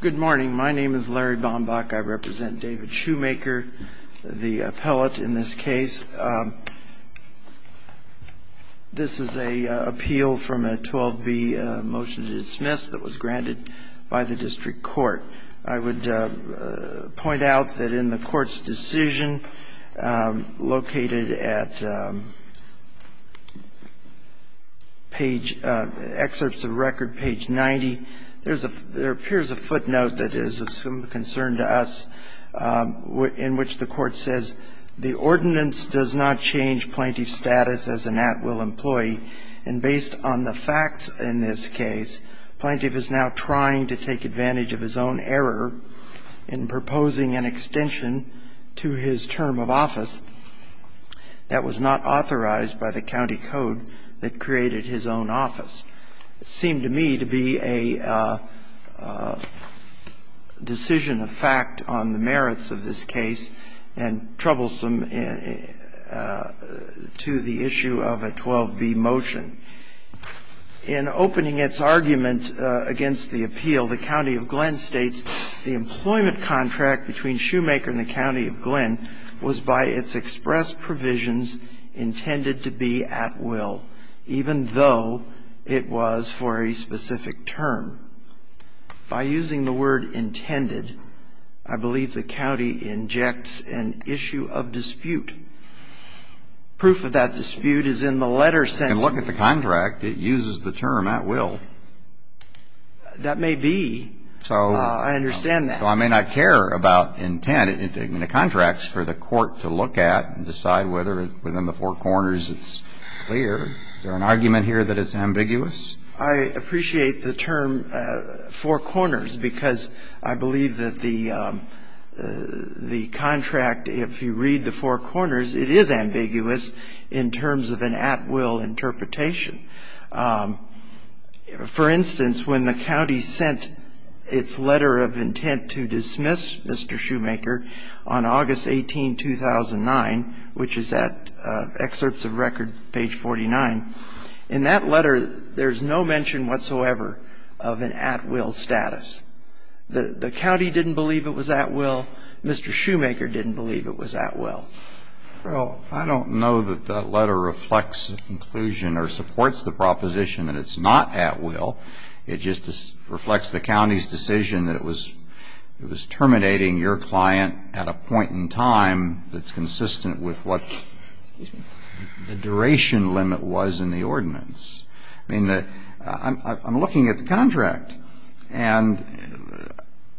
Good morning. My name is Larry Bombach. I represent David Shoemaker, the appellate in this case. This is a appeal from a 12b motion to dismiss that was granted by the district court. I would point out that in the court's decision located at page – excerpts of record page 90, there appears a footnote that is of some concern to us in which the court says, the ordinance does not change plaintiff's status as an at-will employee. And based on the facts in this case, plaintiff is now trying to take advantage of his own error in proposing an extension to his term of office that was not authorized by the county code that created his own office. It seemed to me to be a decision of fact on the merits of this case and troublesome to the issue of a 12b motion. In opening its argument against the appeal, the County of Glenn states, the employment contract between Shoemaker and the County of Glenn was by its express intended to be at will, even though it was for a specific term. By using the word intended, I believe the county injects an issue of dispute. Proof of that dispute is in the letter sent to me. And look at the contract. It uses the term at will. That may be. I understand that. So I may not care about intent in the contracts for the court to look at and decide whether within the four corners it's clear. Is there an argument here that it's ambiguous? I appreciate the term four corners because I believe that the contract, if you read the four corners, it is ambiguous in terms of an at-will interpretation. For instance, when the county sent its letter of intent to dismiss Mr. Shoemaker on August 18, 2009, which is at excerpts of record page 49, in that letter there's no mention whatsoever of an at-will status. The county didn't believe it was at will. Mr. Shoemaker didn't believe it was at will. Well, I don't know that that letter reflects inclusion or supports the proposition that it's not at will. It just reflects the county's decision that it was terminating your client at a point in time that's consistent with what the duration limit was in the ordinance. I mean, I'm looking at the contract, and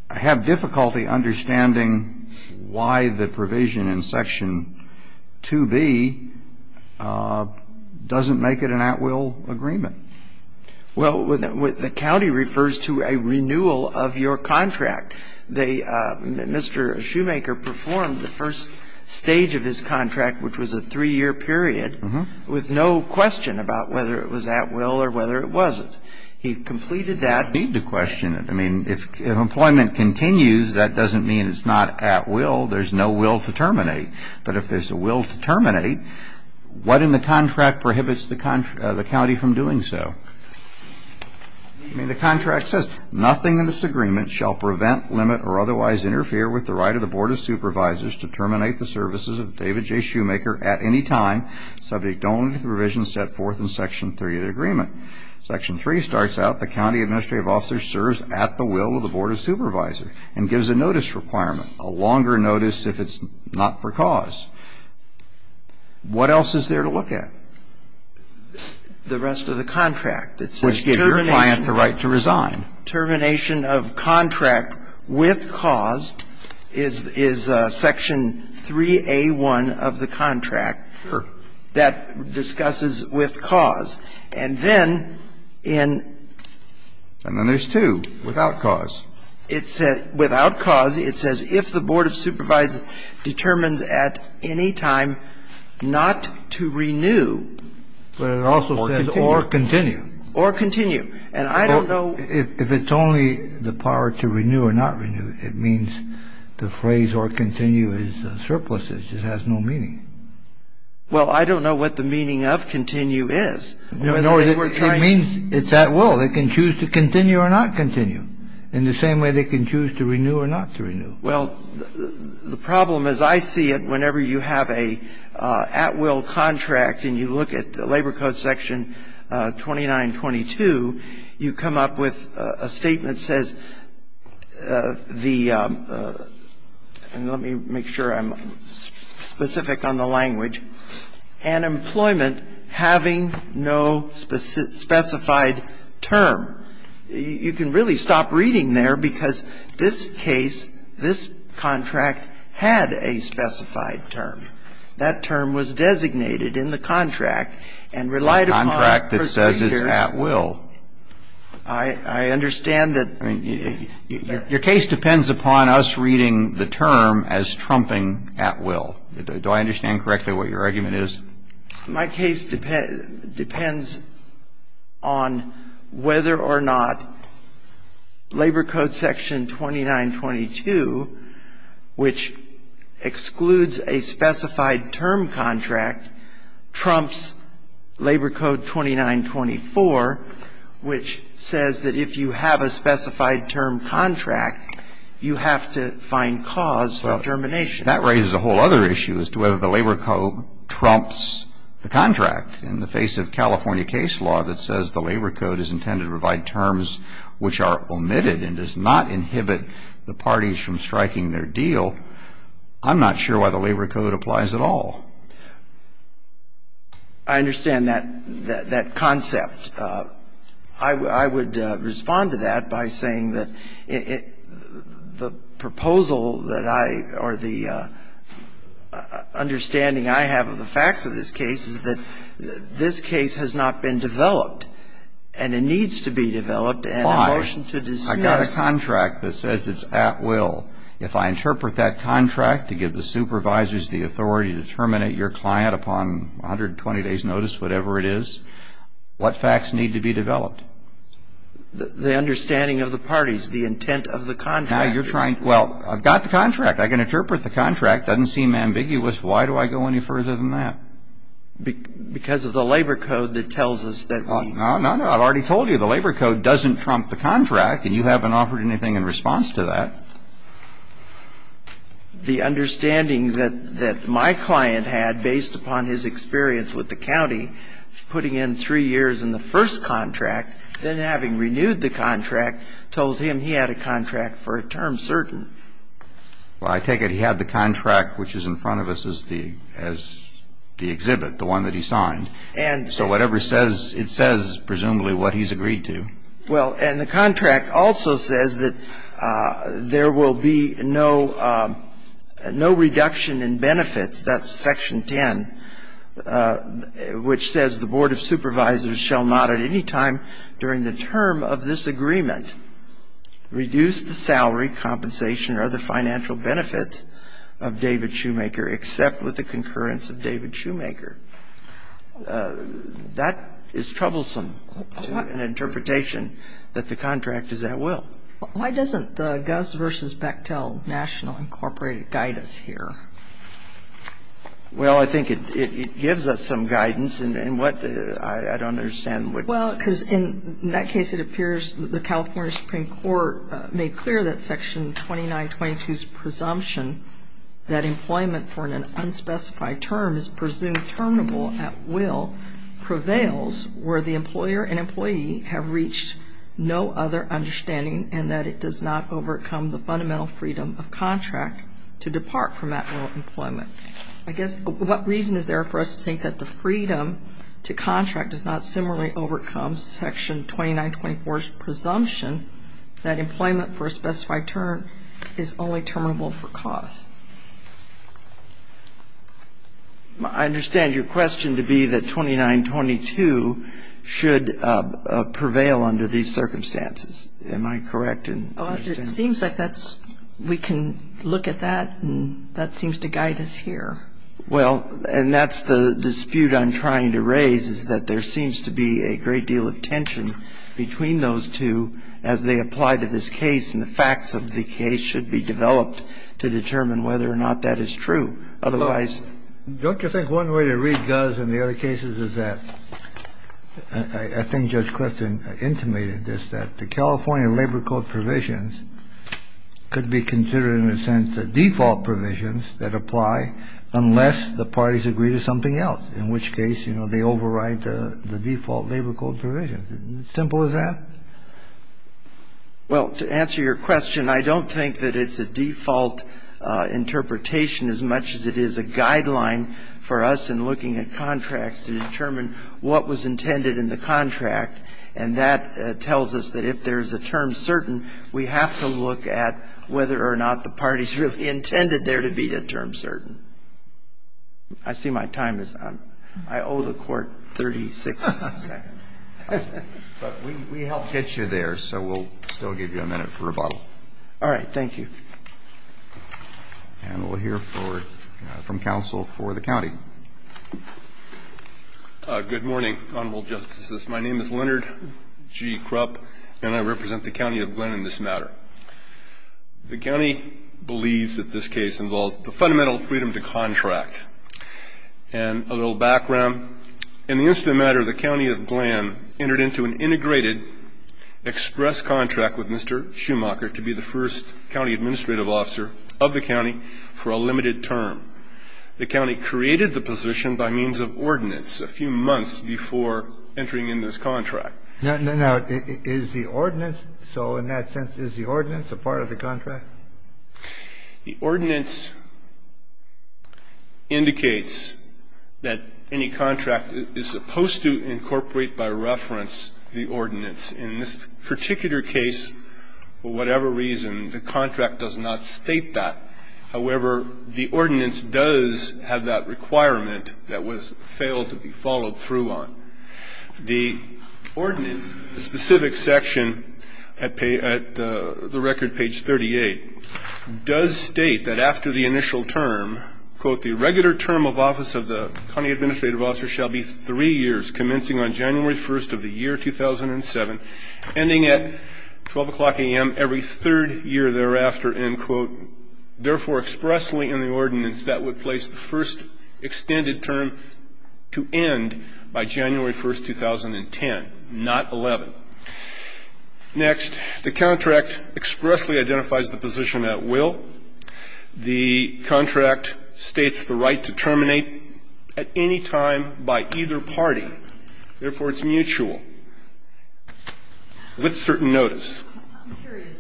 I have difficulty understanding why the provision in Section 2B doesn't make it an at-will agreement. Well, the county refers to a renewal of your contract. Mr. Shoemaker performed the first stage of his contract, which was a three-year period, with no question about whether it was at will or whether it wasn't. He completed that. I don't need to question it. I mean, if employment continues, that doesn't mean it's not at will. There's no will to terminate. But if there's a will to terminate, what in the contract prohibits the county from doing so? I mean, the contract says, Nothing in this agreement shall prevent, limit, or otherwise interfere with the right of the Board of Supervisors to terminate the services of David J. Shoemaker at any time subject only to the provisions set forth in Section 3 of the agreement. Section 3 starts out, The county administrative officer serves at the will of the Board of Supervisors and gives a notice requirement, a longer notice if it's not for cause. What else is there to look at? The rest of the contract. Which gave your client the right to resign. The termination of contract with cause is Section 3A1 of the contract. Sure. That discusses with cause. And then in ---- And then there's 2, without cause. Without cause, it says, If the Board of Supervisors determines at any time not to renew or continue. Or continue. Or continue. And I don't know ---- If it's only the power to renew or not renew, it means the phrase or continue is surpluses. It has no meaning. Well, I don't know what the meaning of continue is. It means it's at will. They can choose to continue or not continue in the same way they can choose to renew or not to renew. Well, the problem is I see it whenever you have a at will contract and you look at the Labor Code Section 2922, you come up with a statement that says the ---- and let me make sure I'm specific on the language. An employment having no specified term. You can really stop reading there because this case, this contract had a specified term. That term was designated in the contract and relied upon ---- A contract that says it's at will. I understand that ---- I mean, your case depends upon us reading the term as trumping at will. Do I understand correctly what your argument is? My case depends on whether or not Labor Code Section 2922, which excludes a specified term contract, trumps Labor Code 2924, which says that if you have a specified term contract, you have to find cause for termination. That raises a whole other issue as to whether the Labor Code trumps the contract in the face of California case law that says the Labor Code is intended to provide terms which are omitted and does not inhibit the parties from striking their deal. I'm not sure why the Labor Code applies at all. I understand that concept. I would respond to that by saying that the proposal that I or the understanding I have of the facts of this case is that this case has not been developed and it needs to be developed and a motion to dismiss ---- Why? I got a contract that says it's at will. If I interpret that contract to give the supervisors the authority to terminate your client upon 120 days' notice, whatever it is, what facts need to be developed? The understanding of the parties, the intent of the contract. Now you're trying to ---- Well, I've got the contract. I can interpret the contract. It doesn't seem ambiguous. Why do I go any further than that? Because of the Labor Code that tells us that we ---- No, no, no. I've already told you the Labor Code doesn't trump the contract and you haven't offered anything in response to that. The understanding that my client had, based upon his experience with the county, putting in three years in the first contract, then having renewed the contract, told him he had a contract for a term certain. Well, I take it he had the contract which is in front of us as the exhibit, the one that he signed. And so whatever it says, it says presumably what he's agreed to. Well, and the contract also says that there will be no reduction in benefits. That's Section 10, which says, the Board of Supervisors shall not at any time during the term of this agreement reduce the salary, compensation, or other financial benefits of David Shoemaker except with the concurrence of David Shoemaker. That is troublesome to an interpretation that the contract is at will. Why doesn't the Gus v. Bechtel National Incorporated guide us here? Well, I think it gives us some guidance. And what ---- I don't understand what ---- Well, because in that case it appears the California Supreme Court made clear that Section 2922's presumption that employment for an unspecified term is presumed terminable at will prevails where the employer and employee have reached no other understanding and that it does not overcome the fundamental freedom of contract to depart from that will of employment. I guess what reason is there for us to think that the freedom to contract does not similarly overcome Section 2924's presumption that employment for a specified term is only terminable for cause? I understand your question to be that 2922 should prevail under these circumstances. Am I correct? It seems like that's ---- we can look at that, and that seems to guide us here. Well, and that's the dispute I'm trying to raise, is that there seems to be a great deal of tension between those two as they apply to this case and the facts of the case should be developed to determine whether or not that is true. Otherwise ---- Don't you think one way to read Guz in the other cases is that I think Judge Clifton intimated this, that the California Labor Code provisions could be considered in a sense the default provisions that apply unless the parties agree to something else, in which case, you know, they override the default Labor Code provisions. Simple as that? Well, to answer your question, I don't think that it's a default interpretation as much as it is a guideline for us in looking at contracts to determine what was intended in the contract. And that tells us that if there's a term certain, we have to look at whether or not the parties really intended there to be a term certain. I see my time is up. I owe the Court 36 seconds. But we helped get you there, so we'll still give you a minute for rebuttal. All right. Thank you. And we'll hear from counsel for the county. Good morning, Honorable Justices. My name is Leonard G. Krupp, and I represent the County of Glenn in this matter. The county believes that this case involves the fundamental freedom to contract. And a little background. In the incident matter, the County of Glenn entered into an integrated express contract with Mr. Schumacher to be the first county administrative officer of the county for a limited term. The county created the position by means of ordinance a few months before entering in this contract. Now, is the ordinance? So in that sense, is the ordinance a part of the contract? The ordinance indicates that any contract is supposed to incorporate by reference the ordinance. In this particular case, for whatever reason, the contract does not state that. However, the ordinance does have that requirement that was failed to be followed through on. The ordinance, the specific section at the record, page 38, does state that after the initial term, quote, the regular term of office of the county administrative officer shall be three years, commencing on January 1st of the year 2007, ending at 12 o'clock a.m. every third year thereafter, end, quote, therefore expressly in the ordinance that would place the first extended term to end by January 1st, 2010, not 11. Next, the contract expressly identifies the position at will. The contract states the right to terminate at any time by either party. Therefore, it's mutual with certain notice. I'm curious,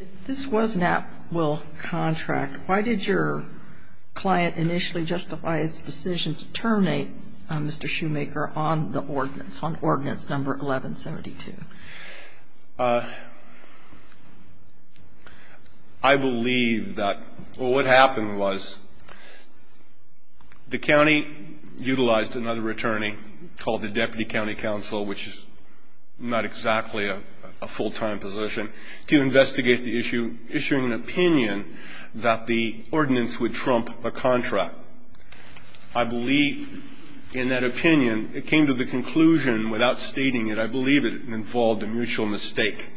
if this was an at-will contract, why did your client initially justify its decision to terminate Mr. Shoemaker on the ordinance, on Ordinance No. 1172? I believe that what happened was the county utilized another attorney called the Deputy County Counsel, which is not exactly a full-time position, to investigate the issue, issuing an opinion that the ordinance would trump a contract. I believe in that opinion, it came to the conclusion, without stating it, I believe it involved a mutual mistake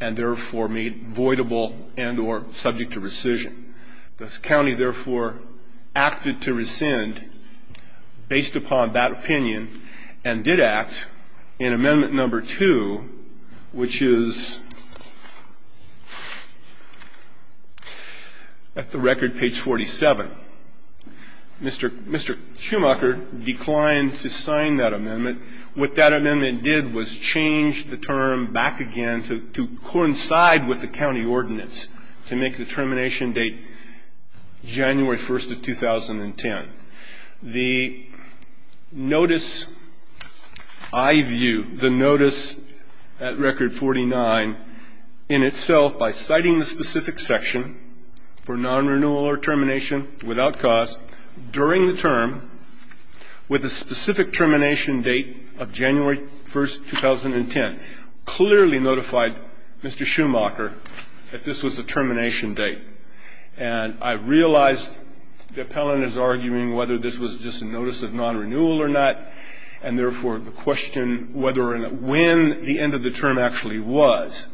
and therefore made voidable and or subject to rescission. This county, therefore, acted to rescind based upon that opinion and did act in Amendment No. 2, which is at the record, page 47. Mr. Shoemaker declined to sign that amendment. What that amendment did was change the term back again to coincide with the county ordinance to make the termination date January 1st of 2010. The notice I view, the notice at Record 49, in itself, by citing the specific section for non-renewal or termination without cost during the term with a specific termination date of January 1st, 2010, clearly notified Mr. Shoemaker that this was a termination date. And I realized the appellant is arguing whether this was just a notice of non-renewal or not, and therefore the question whether or not when the end of the term actually was.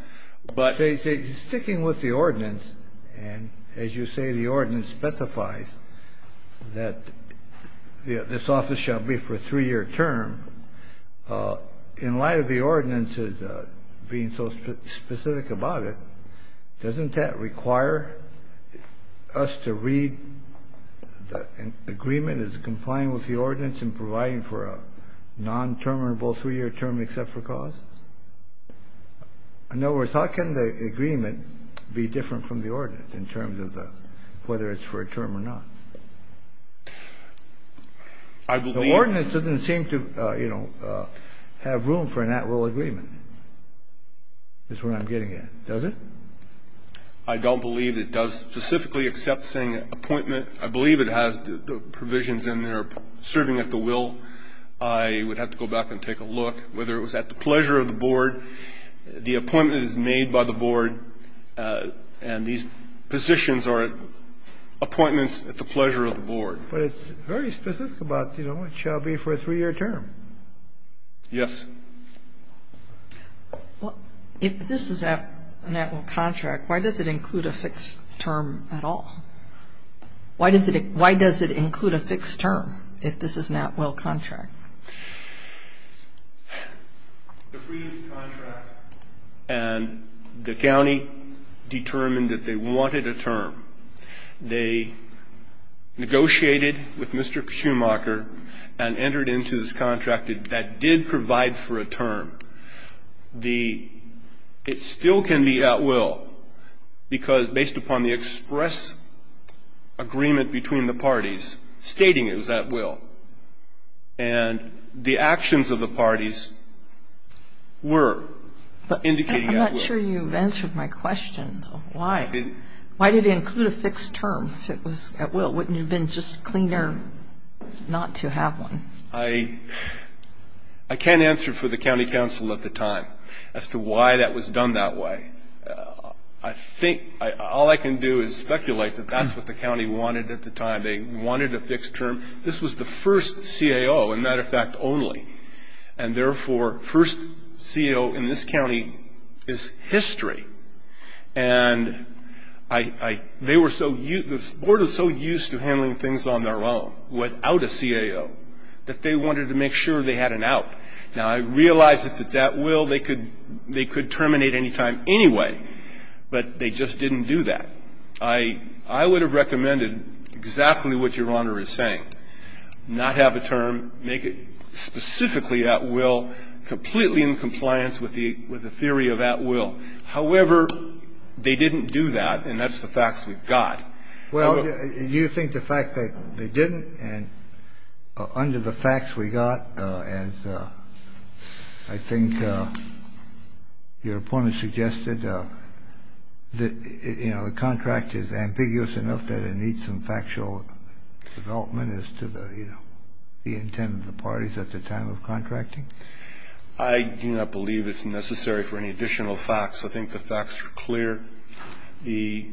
But they say sticking with the ordinance, and as you say, the ordinance specifies that this office shall be for a three-year term. In light of the ordinance as being so specific about it, doesn't that require the office to read the agreement as complying with the ordinance and providing for a non-terminable three-year term except for cost? In other words, how can the agreement be different from the ordinance in terms of whether it's for a term or not? The ordinance doesn't seem to, you know, have room for an at-will agreement, is what I'm getting at. Does it? I don't believe it does specifically except saying appointment. I believe it has the provisions in there serving at the will. I would have to go back and take a look whether it was at the pleasure of the board. The appointment is made by the board, and these positions are appointments at the pleasure of the board. But it's very specific about, you know, it shall be for a three-year term. Yes. Well, if this is an at-will contract, why does it include a fixed term at all? Why does it include a fixed term if this is an at-will contract? The freedom to contract and the county determined that they wanted a term. They negotiated with Mr. Schumacher and entered into this contract that did provide for a term. It still can be at will because based upon the express agreement between the parties stating it was at will, and the actions of the parties were indicating at will. I'm not sure you've answered my question, though. Why? Why did it include a fixed term if it was at will? Wouldn't it have been just cleaner not to have one? I can't answer for the county council at the time as to why that was done that way. I think all I can do is speculate that that's what the county wanted at the time. They wanted a fixed term. This was the first CAO, a matter of fact, only. And, therefore, first CAO in this county is history. And they were so used to handling things on their own without a CAO that they wanted to make sure they had an out. Now, I realize if it's at will, they could terminate any time anyway, but they just didn't do that. I would have recommended exactly what Your Honor is saying, not have a term, make it specifically at will, completely in compliance with the theory of at will. However, they didn't do that, and that's the facts we've got. Well, you think the fact that they didn't, and under the facts we got, as I think your opponent suggested, that, you know, the contract is ambiguous enough that it needs some factual development as to the, you know, the intent of the parties at the time of contracting? I do not believe it's necessary for any additional facts. I think the facts are clear. The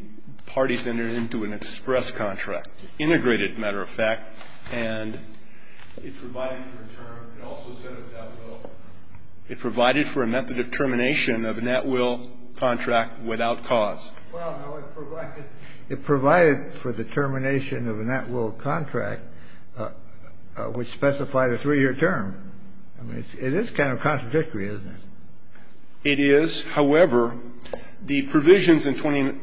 parties entered into an express contract, integrated, matter of fact, and it provided for a term. It also said it was at will. It provided for a method of termination of a at will contract without cause. Well, no. It provided for the termination of a at will contract, which specified a 3-year term. I mean, it is kind of contradictory, isn't it? It is. However, the provisions in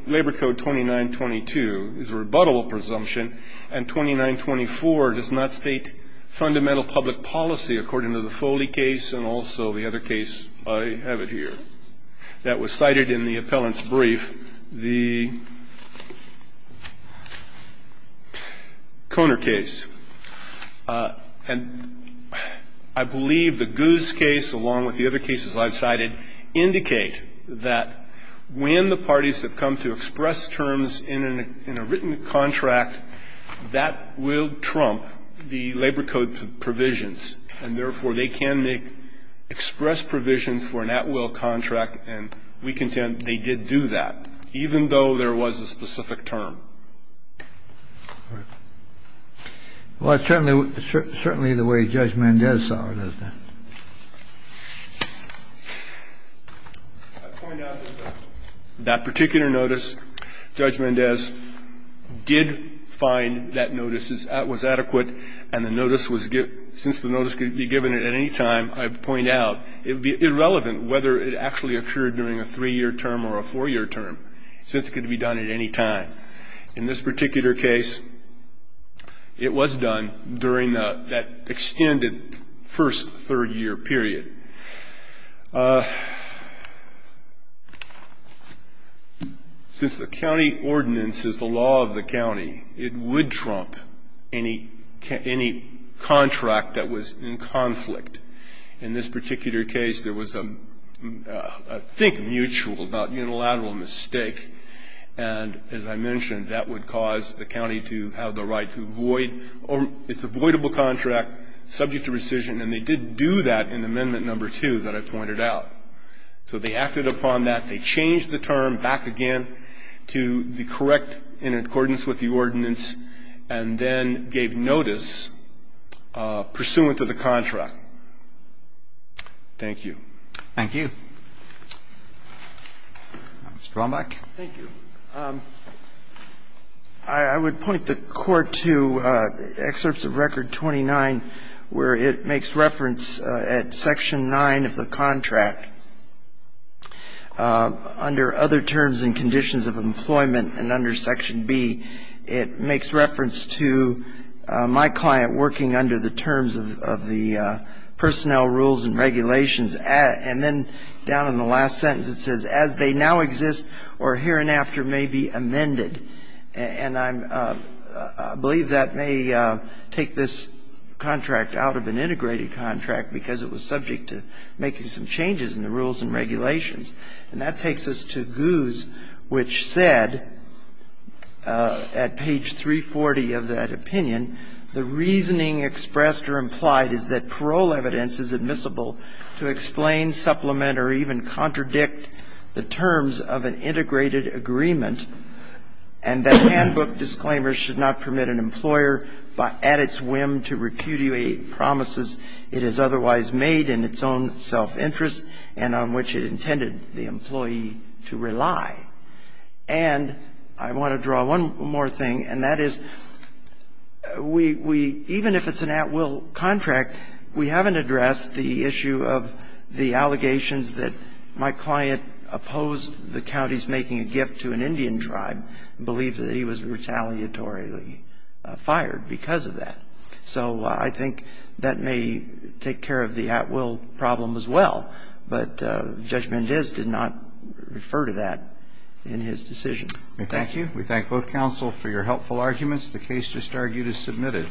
Labor Code 2922 is a rebuttable presumption, and 2924 does not state fundamental public policy according to the Foley case and also the other case I have it here that was cited in the appellant's brief, the Koner case. And I believe the Guz case, along with the other cases I have cited, indicate that when the parties have come to express terms in a written contract, that will trump the Labor Code provisions, and therefore they can make express provisions for an at will contract, and we contend they did do that, even though there was a specific term. All right. Well, it's certainly the way Judge Mendez saw it, isn't it? I point out that that particular notice, Judge Mendez did find that notice was adequate, and the notice was given. Since the notice could be given at any time, I point out it would be irrelevant whether it actually occurred during a 3-year term or a 4-year term, since it could be done at any time. In this particular case, it was done during that extended first 3-year period. Since the county ordinance is the law of the county, it would trump any contract that was in conflict. In this particular case, there was a, I think, mutual, not unilateral, mistake, and as I mentioned, that would cause the county to have the right to void its avoidable contract subject to rescission, and they did do that in Amendment No. 2 that I pointed out. So they acted upon that. They changed the term back again to the correct in accordance with the ordinance and then gave notice pursuant to the contract. Thank you. Mr. Womack. Thank you. I would point the Court to Excerpts of Record 29, where it makes reference at Section 9 of the contract. It makes reference to my client working under the terms of the personnel rules and regulations, and then down in the last sentence it says, as they now exist or hereinafter may be amended. And I believe that may take this contract out of an integrated contract because it was subject to making some changes in the rules and regulations. And that takes us to Goose, which said at page 340 of that opinion, the reasoning expressed or implied is that parole evidence is admissible to explain, supplement, or even contradict the terms of an integrated agreement and that handbook disclaimers should not permit an employer at its whim to repudiate promises it has otherwise made in its own self-interest and on which it intended the employee to rely. And I want to draw one more thing, and that is we, even if it's an at-will contract, we haven't addressed the issue of the allegations that my client opposed the counties making a gift to an Indian tribe, believed that he was retaliatorily fired because of that. So I think that may take care of the at-will problem as well. But Judge Mendez did not refer to that in his decision. Thank you. We thank both counsel for your helpful arguments. The case just argued is submitted.